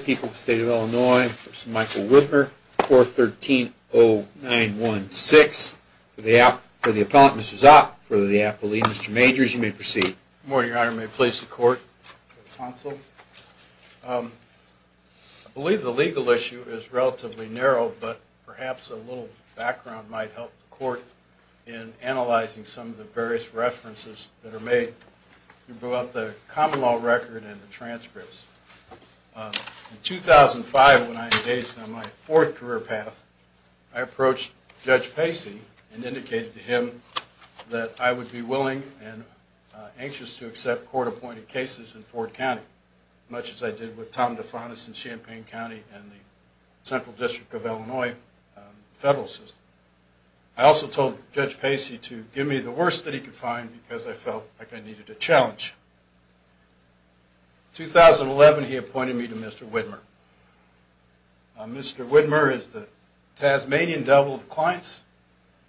People's State of Illinois, Mr. Michael Whitmer, 413-0916, for the appellant, Mr. Zopp, for the appellee, Mr. Majors, you may proceed. Good morning, your honor. May it please the court, counsel. I believe the legal issue is relatively narrow, but perhaps a little background might help the court in analyzing some of the various references that are made. In 2005, when I engaged on my fourth career path, I approached Judge Pacey and indicated to him that I would be willing and anxious to accept court-appointed cases in Ford County, much as I did with Tom DeFontis in Champaign County and the Central District of Illinois federal system. I also told Judge Pacey to give me the worst that he could find because I felt like I needed a challenge. In 2011, he appointed me to Mr. Whitmer. Mr. Whitmer is the Tasmanian devil of clients.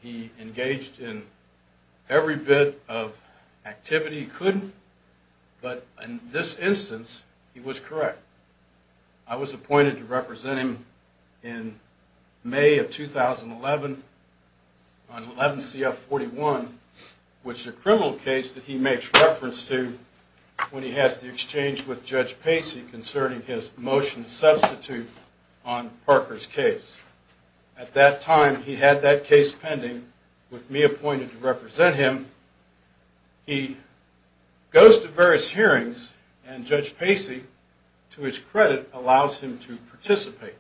He engaged in every bit of activity he could, but in this instance, he was correct. I was appointed to represent him in May of 2011 on 11 CF-41, which is a criminal case that he makes reference to when he has to exchange with Judge Pacey concerning his motion to substitute on Parker's case. At that time, he had that case pending with me appointed to represent him. He goes to various hearings, and Judge Pacey, to his credit, allows him to participate.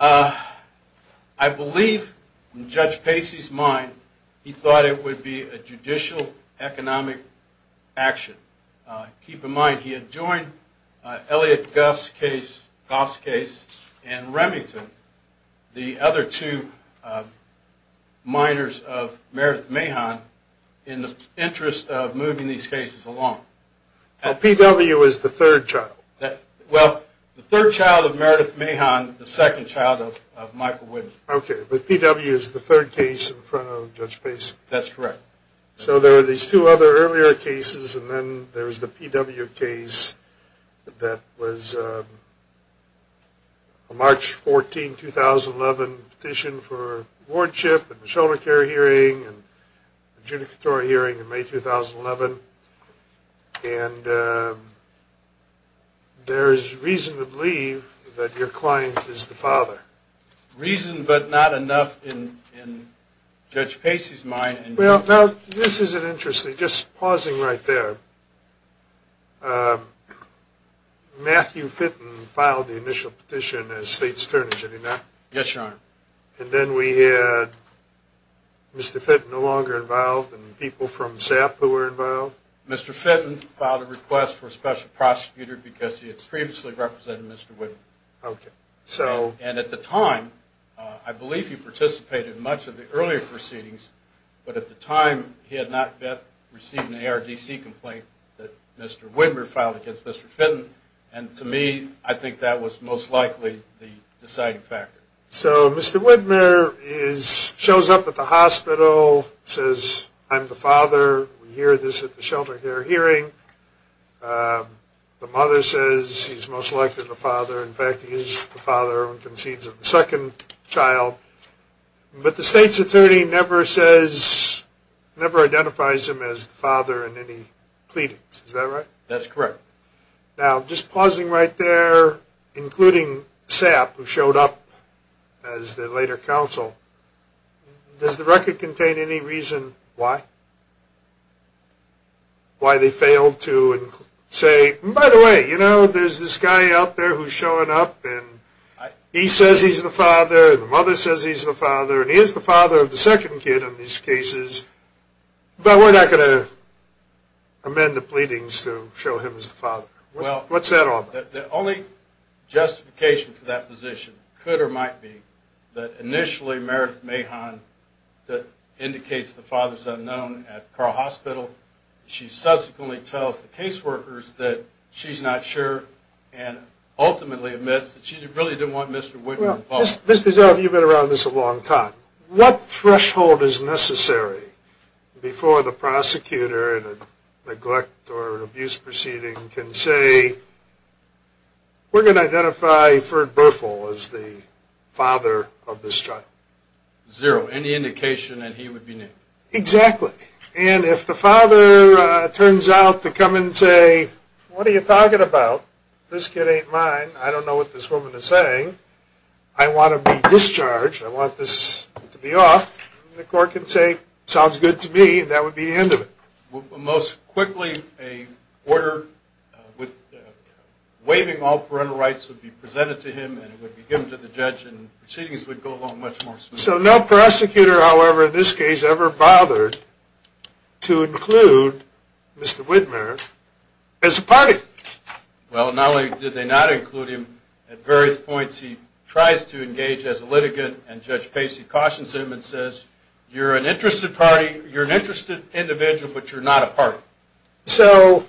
I believe, in Judge Pacey's mind, he thought it would be a judicial economic action. Keep in mind, he had joined Elliot Goff's case and Remington, the other two minors of Meredith Mahon, in the interest of moving these cases along. P.W. is the third child? Well, the third child of Meredith Mahon, the second child of Michael Whitmer. Okay, but P.W. is the third case in front of Judge Pacey? That's correct. So there are these two other earlier cases, and then there's the P.W. case that was a March 14, 2011, petition for wardship and the shoulder care hearing and adjudicatory hearing in May 2011, and there's reason to believe that your client is the father. Reason, but not enough in Judge Pacey's mind. Well, now, this is interesting. Just pausing right there, Matthew Fitton filed the initial petition as state's attorney, did he not? Yes, Your Honor. And then we had Mr. Fitton no longer involved and people from SAP who were involved? Mr. Fitton filed a request for a special prosecutor because he had previously represented Mr. Whitmer. Okay, so... And at the time, I believe he participated in much of the earlier proceedings, but at the time he had not yet received an ARDC complaint that Mr. Whitmer filed against Mr. Fitton, and to me, I think that was most likely the deciding factor. So, Mr. Whitmer shows up at the hospital, says, I'm the father, we hear this at the shoulder care hearing, the mother says he's most likely the father, in fact, he is the father and concedes of the second child, but the state's attorney never identifies him as the father in any pleadings, is that right? That's correct. Now, just pausing right there, including SAP who showed up as the later counsel, does the record contain any reason why? Why they failed to say, by the way, you know, there's this guy out there who's showing up and he says he's the father, the mother says he's the father, and he is the father of the second kid in these cases, but we're not going to amend the pleadings to show him as the father. Well... What's that all about? The only justification for that position, could or might be, that initially Meredith Mahon indicates the father's unknown at Carle Hospital, she subsequently tells the case workers that she's not sure, and ultimately admits that she really didn't want Mr. Whitmer involved. Mr. Zell, you've been around this a long time, what threshold is necessary before the prosecutor in a neglect or abuse proceeding can say, we're going to identify Ferd Bertholdt as the father of this child? Zero, any indication that he would be named. Exactly, and if the father turns out to come and say, what are you talking about, this kid ain't mine, I don't know what this woman is saying, I want to be discharged, I want this to be off, the court can say, sounds good to me, and that would be the end of it. Most quickly, a order with waiving all parental rights would be presented to him and it would be given to the judge and proceedings would go along much more smoothly. So no prosecutor, however, in this case ever bothered to include Mr. Whitmer as a party. Well, not only did they not include him, at various points he tries to engage as a litigant and Judge Pacey cautions him and says, you're an interested party, you're an interested individual, but you're not a party. So,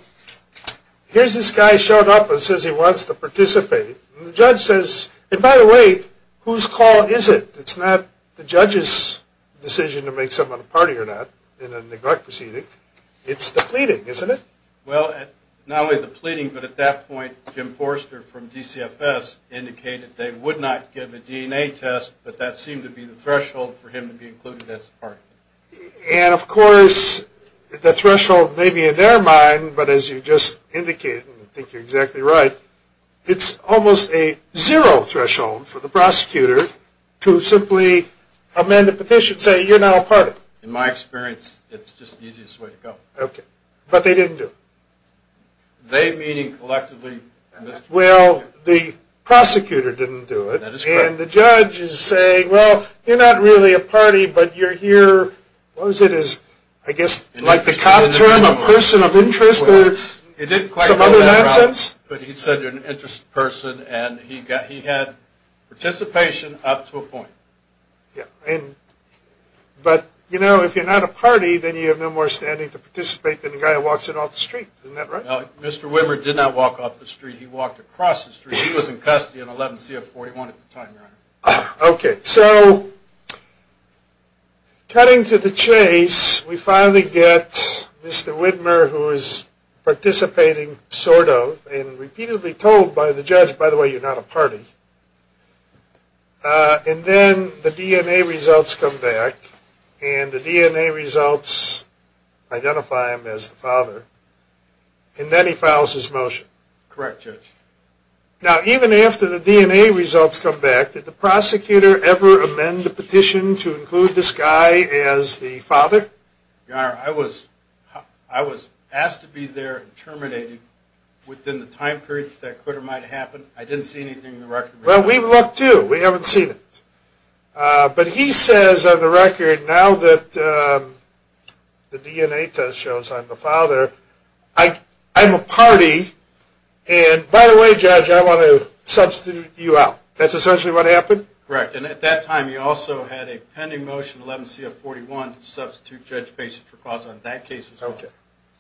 here's this guy showed up and says he wants to participate, and the judge says, and by the way, whose call is it? It's not the judge's decision to make someone a party or not in a neglect proceeding, it's the pleading, isn't it? Well, not only the pleading, but at that point, Jim Forster from DCFS indicated they would not give a DNA test, but that seemed to be the threshold for him to be included as a party. And of course, the threshold may be in their mind, but as you just indicated, and I think you're exactly right, it's almost a zero threshold for the prosecutor to simply amend a petition saying you're not a party. In my experience, it's just the easiest way to go. Okay, but they didn't do it. They meaning collectively? Well, the prosecutor didn't do it, and the judge is saying, well, you're not really a party, but you're here, what was it, I guess, like the common term, a person of interest, or some other nonsense? But he said you're an interested person, and he had participation up to a point. Yeah, and, but, you know, if you're not a party, then you have no more standing to participate than the guy that walks in off the street, isn't that right? Well, Mr. Widmer did not walk off the street, he walked across the street. He was in custody in 11 CF41 at the time, Your Honor. Okay, so, cutting to the chase, we finally get Mr. Widmer, who is participating, sort of, and repeatedly told by the judge, by the way, you're not a party. And then the DNA results come back, and the DNA results identify him as the father, and then he files his motion. Correct, Judge. Now, even after the DNA results come back, did the prosecutor ever amend the petition to include this guy as the father? Your Honor, I was asked to be there and terminated within the time period that that quitter might happen. I didn't see anything in the record. Well, we looked, too. We haven't seen it. But he says on the record, now that the DNA test shows I'm the father, I'm a party, and, by the way, Judge, I want to substitute you out. That's essentially what happened? Correct. And at that time, he also had a pending motion, 11 CF41, to substitute Judge Pace's proposal on that case, as well. Okay.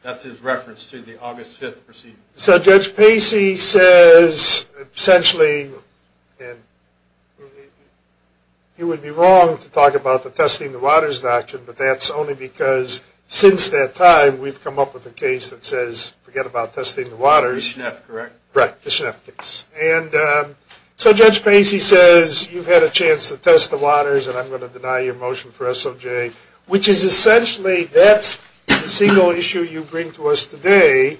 That's his reference to the August 5th proceeding. So, Judge Pace says, essentially, and he would be wrong to talk about the testing the waters doctrine, but that's only because, since that time, we've come up with a case that says, forget about testing the waters. The SHNEP, correct? Correct, the SHNEP case. And so, Judge Pace, he says, you've had a chance to test the waters, and I'm going to deny your motion for SOJ, which is essentially, that's the single issue you bring to us today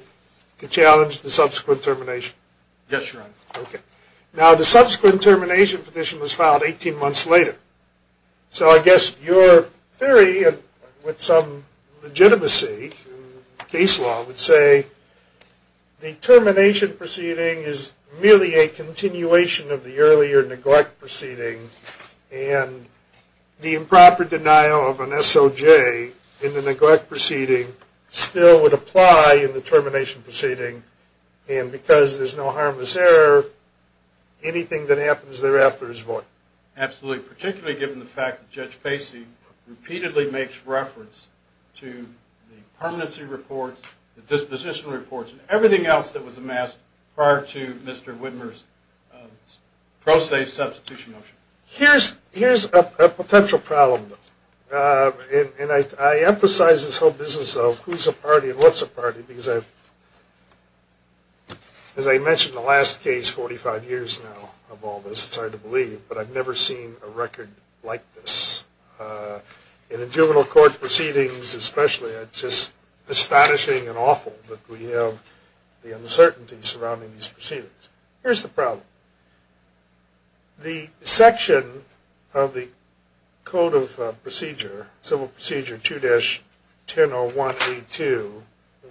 to challenge the subsequent termination. Yes, Your Honor. Okay. Now, the subsequent termination petition was filed 18 months later. So, I guess your theory, with some legitimacy in case law, would say the termination proceeding is merely a continuation of the earlier neglect proceeding, and the improper denial of an SOJ in the neglect proceeding still would apply in the termination proceeding, and because there's no harmless error, anything that happens thereafter is void. Absolutely, particularly given the fact that Judge Pace repeatedly makes reference to the permanency reports, the disposition reports, and everything else that was amassed prior to Mr. Widmer's pro se substitution motion. Here's a potential problem, though. And I emphasize this whole business of who's a party and what's a party because I've, as I mentioned in the last case, 45 years now of all this, it's hard to believe, but I've never seen a record like this. And in juvenile court proceedings especially, it's just astonishing and awful that we have the uncertainty surrounding these proceedings. Here's the problem. The section of the Code of Procedure, Civil Procedure 2-1001A2,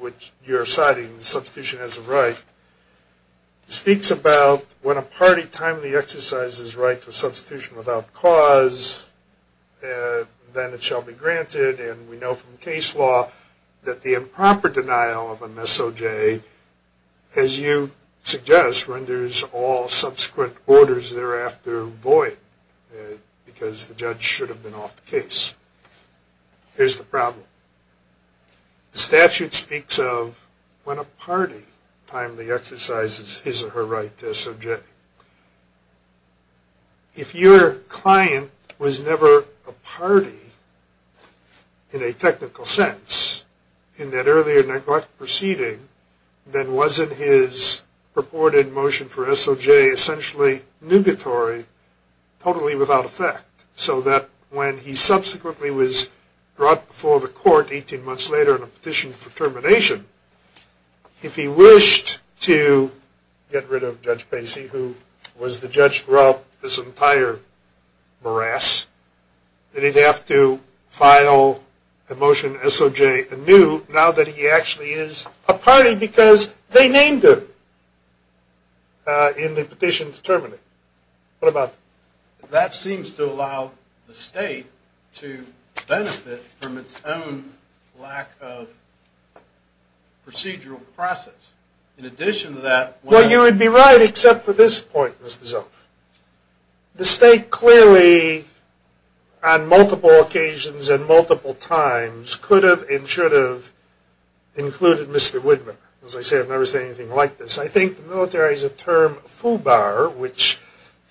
which you're citing, substitution as a right, speaks about when a party timely exercises right to substitution without cause, then it shall be granted. And we know from case law that the improper denial of an SOJ, as you suggest, renders all subsequent orders thereafter void because the judge should have been off the case. Here's the problem. The statute speaks of when a party timely exercises his or her right to SOJ. If your client was never a party in a technical sense in that earlier neglect proceeding, then wasn't his purported motion for SOJ essentially nugatory, totally without effect, so that when he subsequently was brought before the court 18 months later on a petition for termination, if he wished to get rid of Judge Pacey, who was the judge throughout this entire morass, that he'd have to file a motion SOJ anew now that he actually is a party because they named him in the petition to terminate. What about that? That seems to allow the state to benefit from its own lack of procedural process. In addition to that... Well, you would be right except for this point, Mr. Zolk. The state clearly, on multiple occasions and multiple times, could have and should have included Mr. Widmer. As I say, I've never seen anything like this. I think the military is a term foobar, which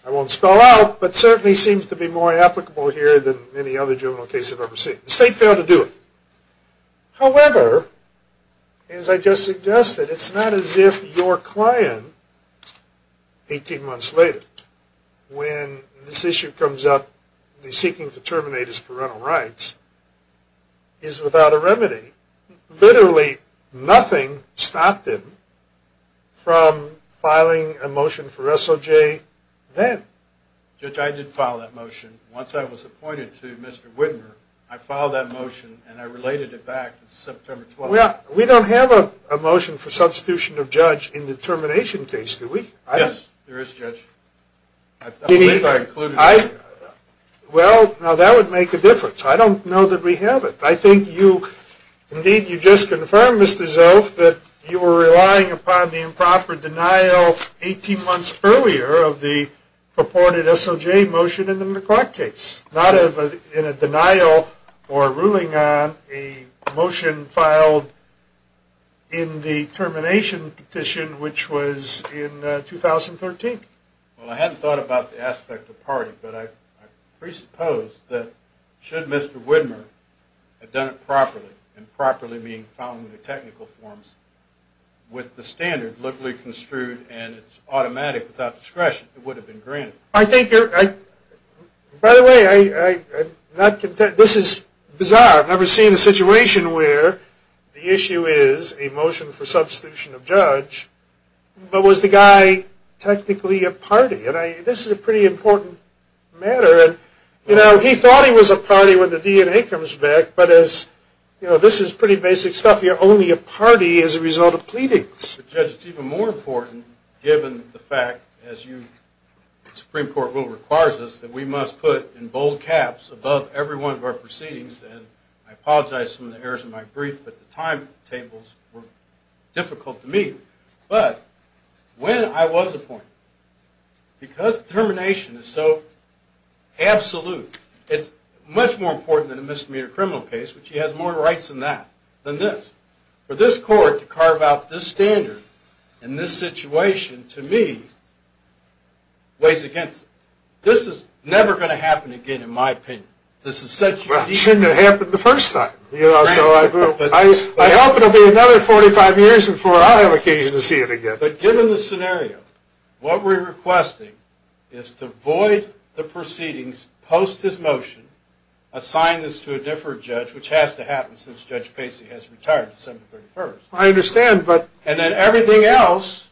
I won't spell out, but certainly seems to be more applicable here than any other juvenile case I've ever seen. The state failed to do it. However, as I just suggested, it's not as if your client, 18 months later, when this issue comes up and he's seeking to terminate his parental rights, is without a remedy. Literally nothing stopped him from filing a motion for SOJ then. Judge, I did file that motion. Once I was appointed to Mr. Widmer, I filed that motion and I related it back to September 12th. We don't have a motion for substitution of judge in the termination case, do we? Yes, there is, Judge. I believe I included it. Well, now that would make a difference. I don't know that we have it. I think you, indeed, you just confirmed, Mr. Zolf, that you were relying upon the improper denial 18 months earlier of the purported SOJ motion in the McLeod case. Not in a denial or ruling on a motion filed in the termination petition, which was in 2013. Well, I hadn't thought about the aspect of party, but I presuppose that should Mr. Widmer have done it properly, and properly meaning following the technical forms with the standard locally construed and it's automatic without discretion, it would have been granted. By the way, this is bizarre. I've never seen a situation where the issue is a motion for substitution of judge, but was the guy technically a party? This is a pretty important matter. He thought he was a party when the DNA comes back, but this is pretty basic stuff. You're only a party as a result of pleadings. But, Judge, it's even more important, given the fact, as the Supreme Court rule requires us, that we must put in bold caps above every one of our proceedings, and I apologize for some of the errors in my brief, but the timetables were difficult to meet. But when I was appointed, because termination is so absolute, it's much more important than a misdemeanor criminal case, which he has more rights than that, than this. For this court to carve out this standard in this situation, to me, weighs against it. This is never going to happen again, in my opinion. Well, it shouldn't have happened the first time. I hope it will be another 45 years before I have occasion to see it again. But given the scenario, what we're requesting is to void the proceedings post his motion, assign this to a different judge, which has to happen since Judge Pacey has retired December 31st. I understand, but... And then everything else...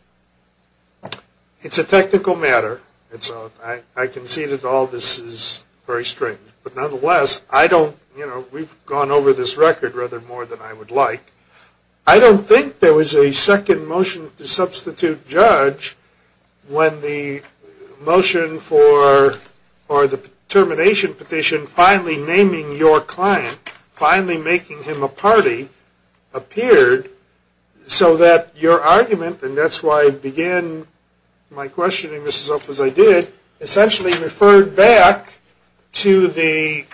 It's a technical matter, and so I concede that all this is very strange. But nonetheless, I don't, you know, we've gone over this record rather more than I would like. I don't think there was a second motion to substitute judge when the motion for, or the termination petition, finally naming your client, finally making him a party, appeared. So that your argument, and that's why I begin my questioning as I did, essentially referred back to the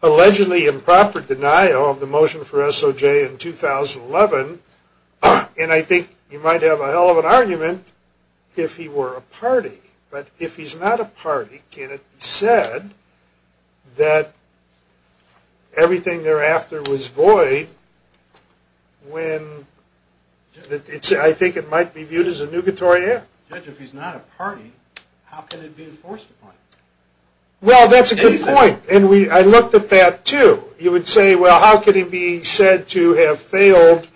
allegedly improper denial of the motion for SOJ in 2011. And I think you might have a hell of an argument if he were a party. But if he's not a party, can it be said that everything thereafter was void when... I think it might be viewed as a nugatory act. Judge, if he's not a party, how can it be enforced upon him? Well, that's a good point. And I looked at that, too. You would say, well, how can he be said to have failed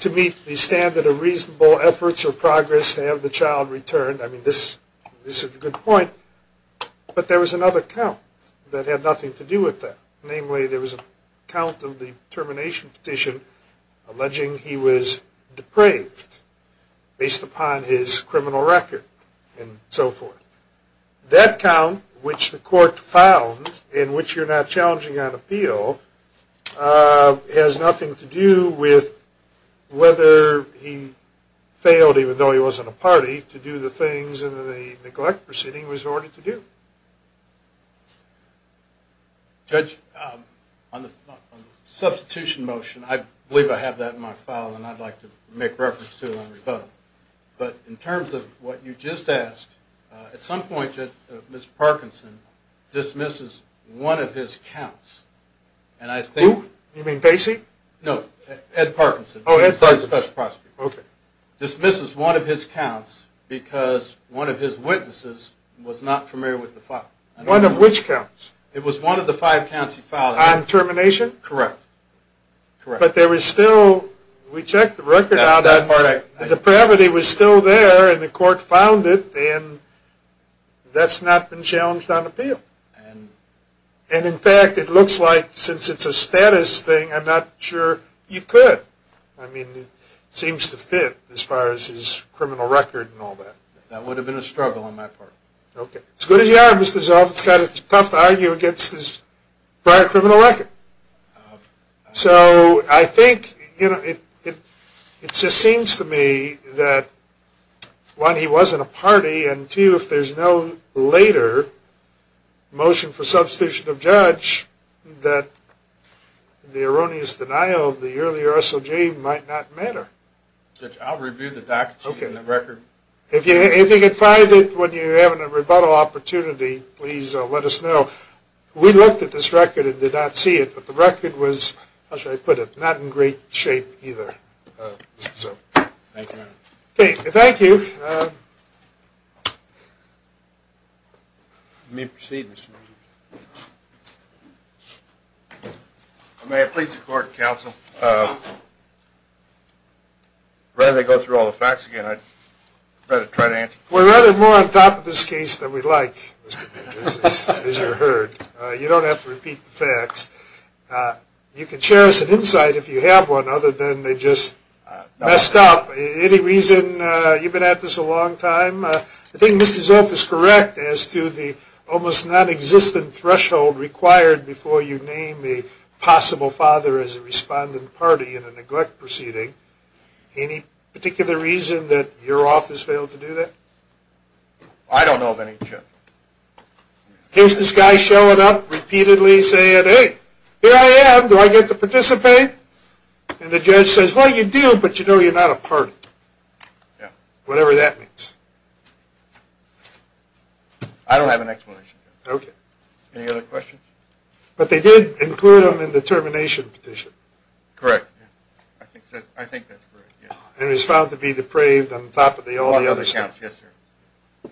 to meet the standard of reasonable efforts or progress to have the child returned? I mean, this is a good point. But there was another count that had nothing to do with that. Namely, there was a count of the termination petition alleging he was depraved based upon his criminal record and so forth. That count, which the court found, in which you're not challenging on appeal, has nothing to do with whether he failed, even though he wasn't a party, to do the things in the neglect proceeding was ordered to do. Judge, on the substitution motion, I believe I have that in my file and I'd like to make reference to it on rebuttal. But in terms of what you just asked, at some point, Mr. Parkinson dismisses one of his counts. Who? You mean Basie? No, Ed Parkinson. Oh, Ed Parkinson. He dismisses one of his counts because one of his witnesses was not familiar with the file. One of which counts? It was one of the five counts he filed. On termination? Correct. But there was still, we checked the record, the depravity was still there and the court found it and that's not been challenged on appeal. And in fact, it looks like, since it's a status thing, I'm not sure you could. I mean, it seems to fit as far as his criminal record and all that. That would have been a struggle on my part. Okay. As good as you are, Mr. Zoff, it's kind of tough to argue against his prior criminal record. So I think, you know, it just seems to me that one, he was in a party and two, if there's no later motion for substitution of judge, that the erroneous denial of the earlier SOG might not matter. Judge, I'll review the documents and the record. If you can find it when you're having a rebuttal opportunity, please let us know. We looked at this record and did not see it, but the record was, how should I put it, not in great shape either. Thank you. Okay, thank you. You may proceed, Mr. Williams. May I plead the court, counsel? Rather than go through all the facts again, I'd rather try to answer. We're rather more on top of this case than we'd like, as you heard. You don't have to repeat the facts. You can share us an insight if you have one, other than they just messed up. Any reason you've been at this a long time? I think Mr. Zoff is correct as to the almost nonexistent threshold required before you name a possible father as a respondent party in a neglect proceeding. Any particular reason that your office failed to do that? I don't know of any, Judge. Here's this guy showing up repeatedly saying, hey, here I am. Do I get to participate? And the judge says, well, you do, but you know you're not a party. Whatever that means. I don't have an explanation. Okay. Any other questions? But they did include him in the termination petition. Correct. I think that's correct. And he was found to be depraved on top of all the other stuff. Yes, sir.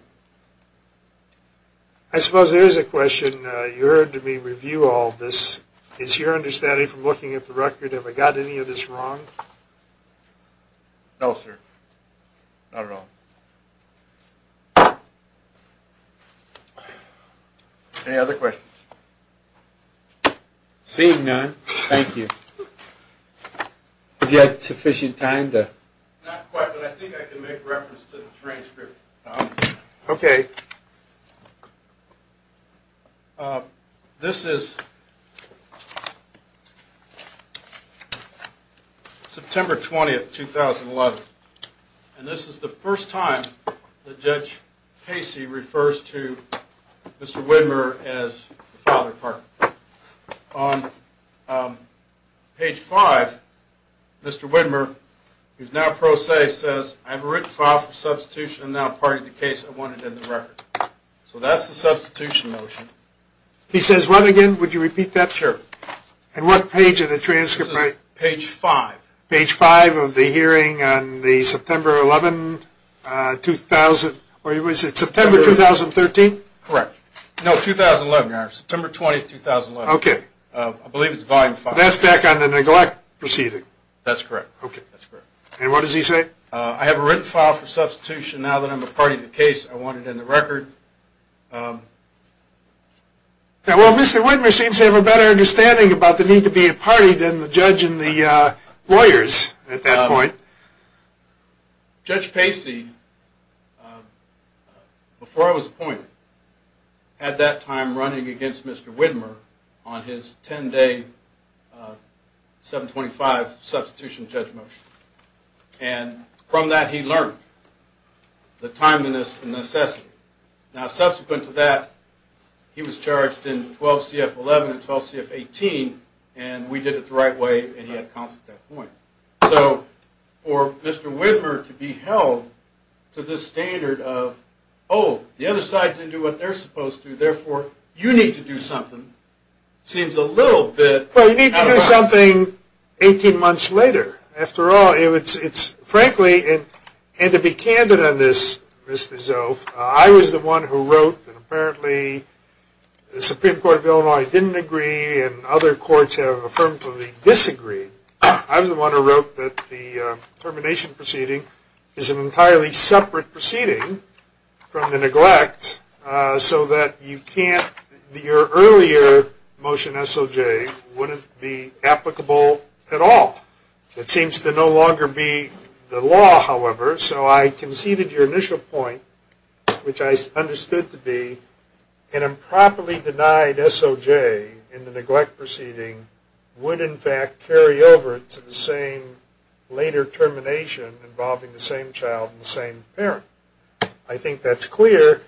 I suppose there is a question. You heard me review all this. Is your understanding from looking at the record, have I got any of this wrong? No, sir. Not at all. Any other questions? Seeing none, thank you. Have you had sufficient time to? Not quite, but I think I can make reference to the transcript. Okay. Okay. This is September 20th, 2011. And this is the first time that Judge Pacey refers to Mr. Widmer as the father partner. On page 5, Mr. Widmer, who is now pro se, says, I have a written file for substitution and now party to the case I wanted in the record. So that's the substitution motion. He says what again? Would you repeat that? Sure. And what page of the transcript? Page 5. Page 5 of the hearing on the September 11, 2000, or was it September 2013? Correct. No, 2011. September 20th, 2011. Okay. I believe it's volume 5. That's back on the neglect proceeding. That's correct. Okay. And what does he say? I have a written file for substitution now that I'm a party to the case I wanted in the record. Well, Mr. Widmer seems to have a better understanding about the need to be a party than the judge and the lawyers at that point. Judge Pacey, before I was appointed, had that time running against Mr. Widmer on his 10-day 725 substitution judge motion. And from that, he learned the timeliness and necessity. Now, subsequent to that, he was charged in 12 CF 11 and 12 CF 18, and we did it the right way, and he had counsel at that point. So for Mr. Widmer to be held to this standard of, oh, the other side didn't do what they're supposed to, therefore you need to do something, seems a little bit out of us. Well, you need to do something 18 months later. After all, it's frankly, and to be candid on this, Mr. Zoff, I was the one who wrote, and apparently the Supreme Court of Illinois didn't agree and other courts have affirmatively disagreed. I was the one who wrote that the termination proceeding is an entirely separate proceeding from the neglect so that you can't, your earlier motion SOJ wouldn't be applicable at all. It seems to no longer be the law, however, so I conceded your initial point, which I understood to be, an improperly denied SOJ in the neglect proceeding would in fact carry over to the same later termination involving the same child and the same parent. I think that's clear,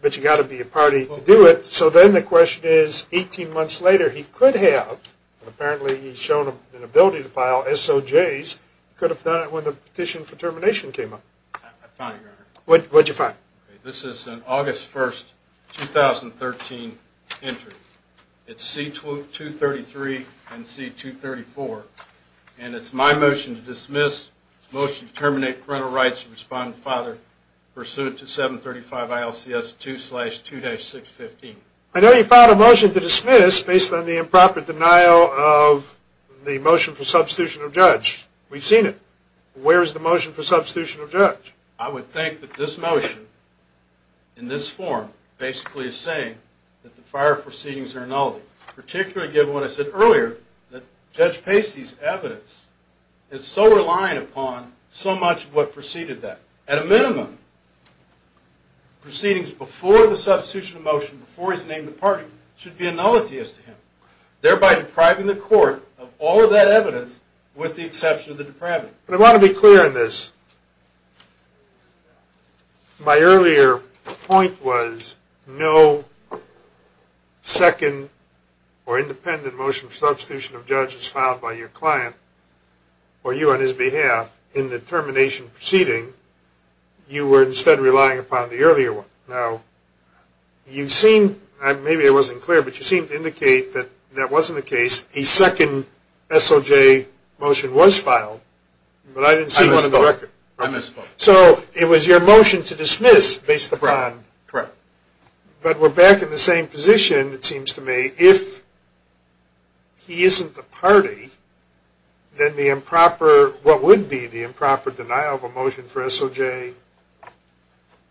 but you've got to be a party to do it. So then the question is, 18 months later, he could have, and apparently he's shown an ability to file SOJs, could have done it when the petition for termination came up. I found it, Your Honor. What did you find? This is an August 1st, 2013 entry. It's C-233 and C-234, and it's my motion to dismiss, motion to terminate parental rights of respondent father pursuant to 735 ILCS 2-2-615. I know you filed a motion to dismiss based on the improper denial of the motion for substitution of judge. We've seen it. Where is the motion for substitution of judge? I would think that this motion, in this form, basically is saying that the prior proceedings are nullity, particularly given what I said earlier, that Judge Pacey's evidence is so reliant upon so much of what preceded that. At a minimum, proceedings before the substitution of motion, before he's named a party, should be nullity as to him, thereby depriving the court of all of that evidence with the exception of the depravity. But I want to be clear on this. My earlier point was no second or independent motion for substitution of judge is filed by your client or you on his behalf in the termination proceeding. You were instead relying upon the earlier one. Now, you seem, maybe I wasn't clear, but you seem to indicate that that wasn't the case. A second SOJ motion was filed, but I didn't see one on the record. I missed both. So it was your motion to dismiss based upon. Correct. But we're back in the same position, it seems to me. If he isn't the party, then the improper, what would be the improper denial of a motion for SOJ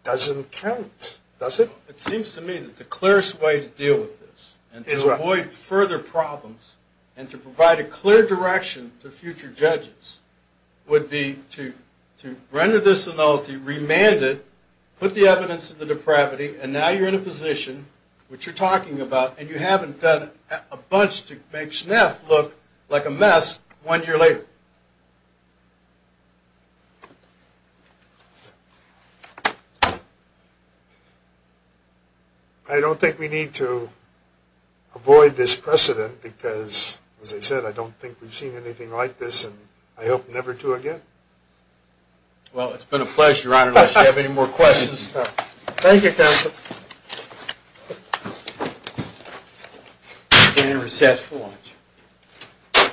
doesn't count, does it? It seems to me that the clearest way to deal with this and to avoid further problems and to provide a clear direction to future judges would be to render this nullity, remand it, put the evidence of the depravity, and now you're in a position which you're talking about and you haven't done a bunch to make SNF look like a mess one year later. I don't think we need to avoid this precedent because, as I said, I don't think we've seen anything like this and I hope never to again. Well, it's been a pleasure, Your Honor, unless you have any more questions. Thank you, counsel. And recess for lunch.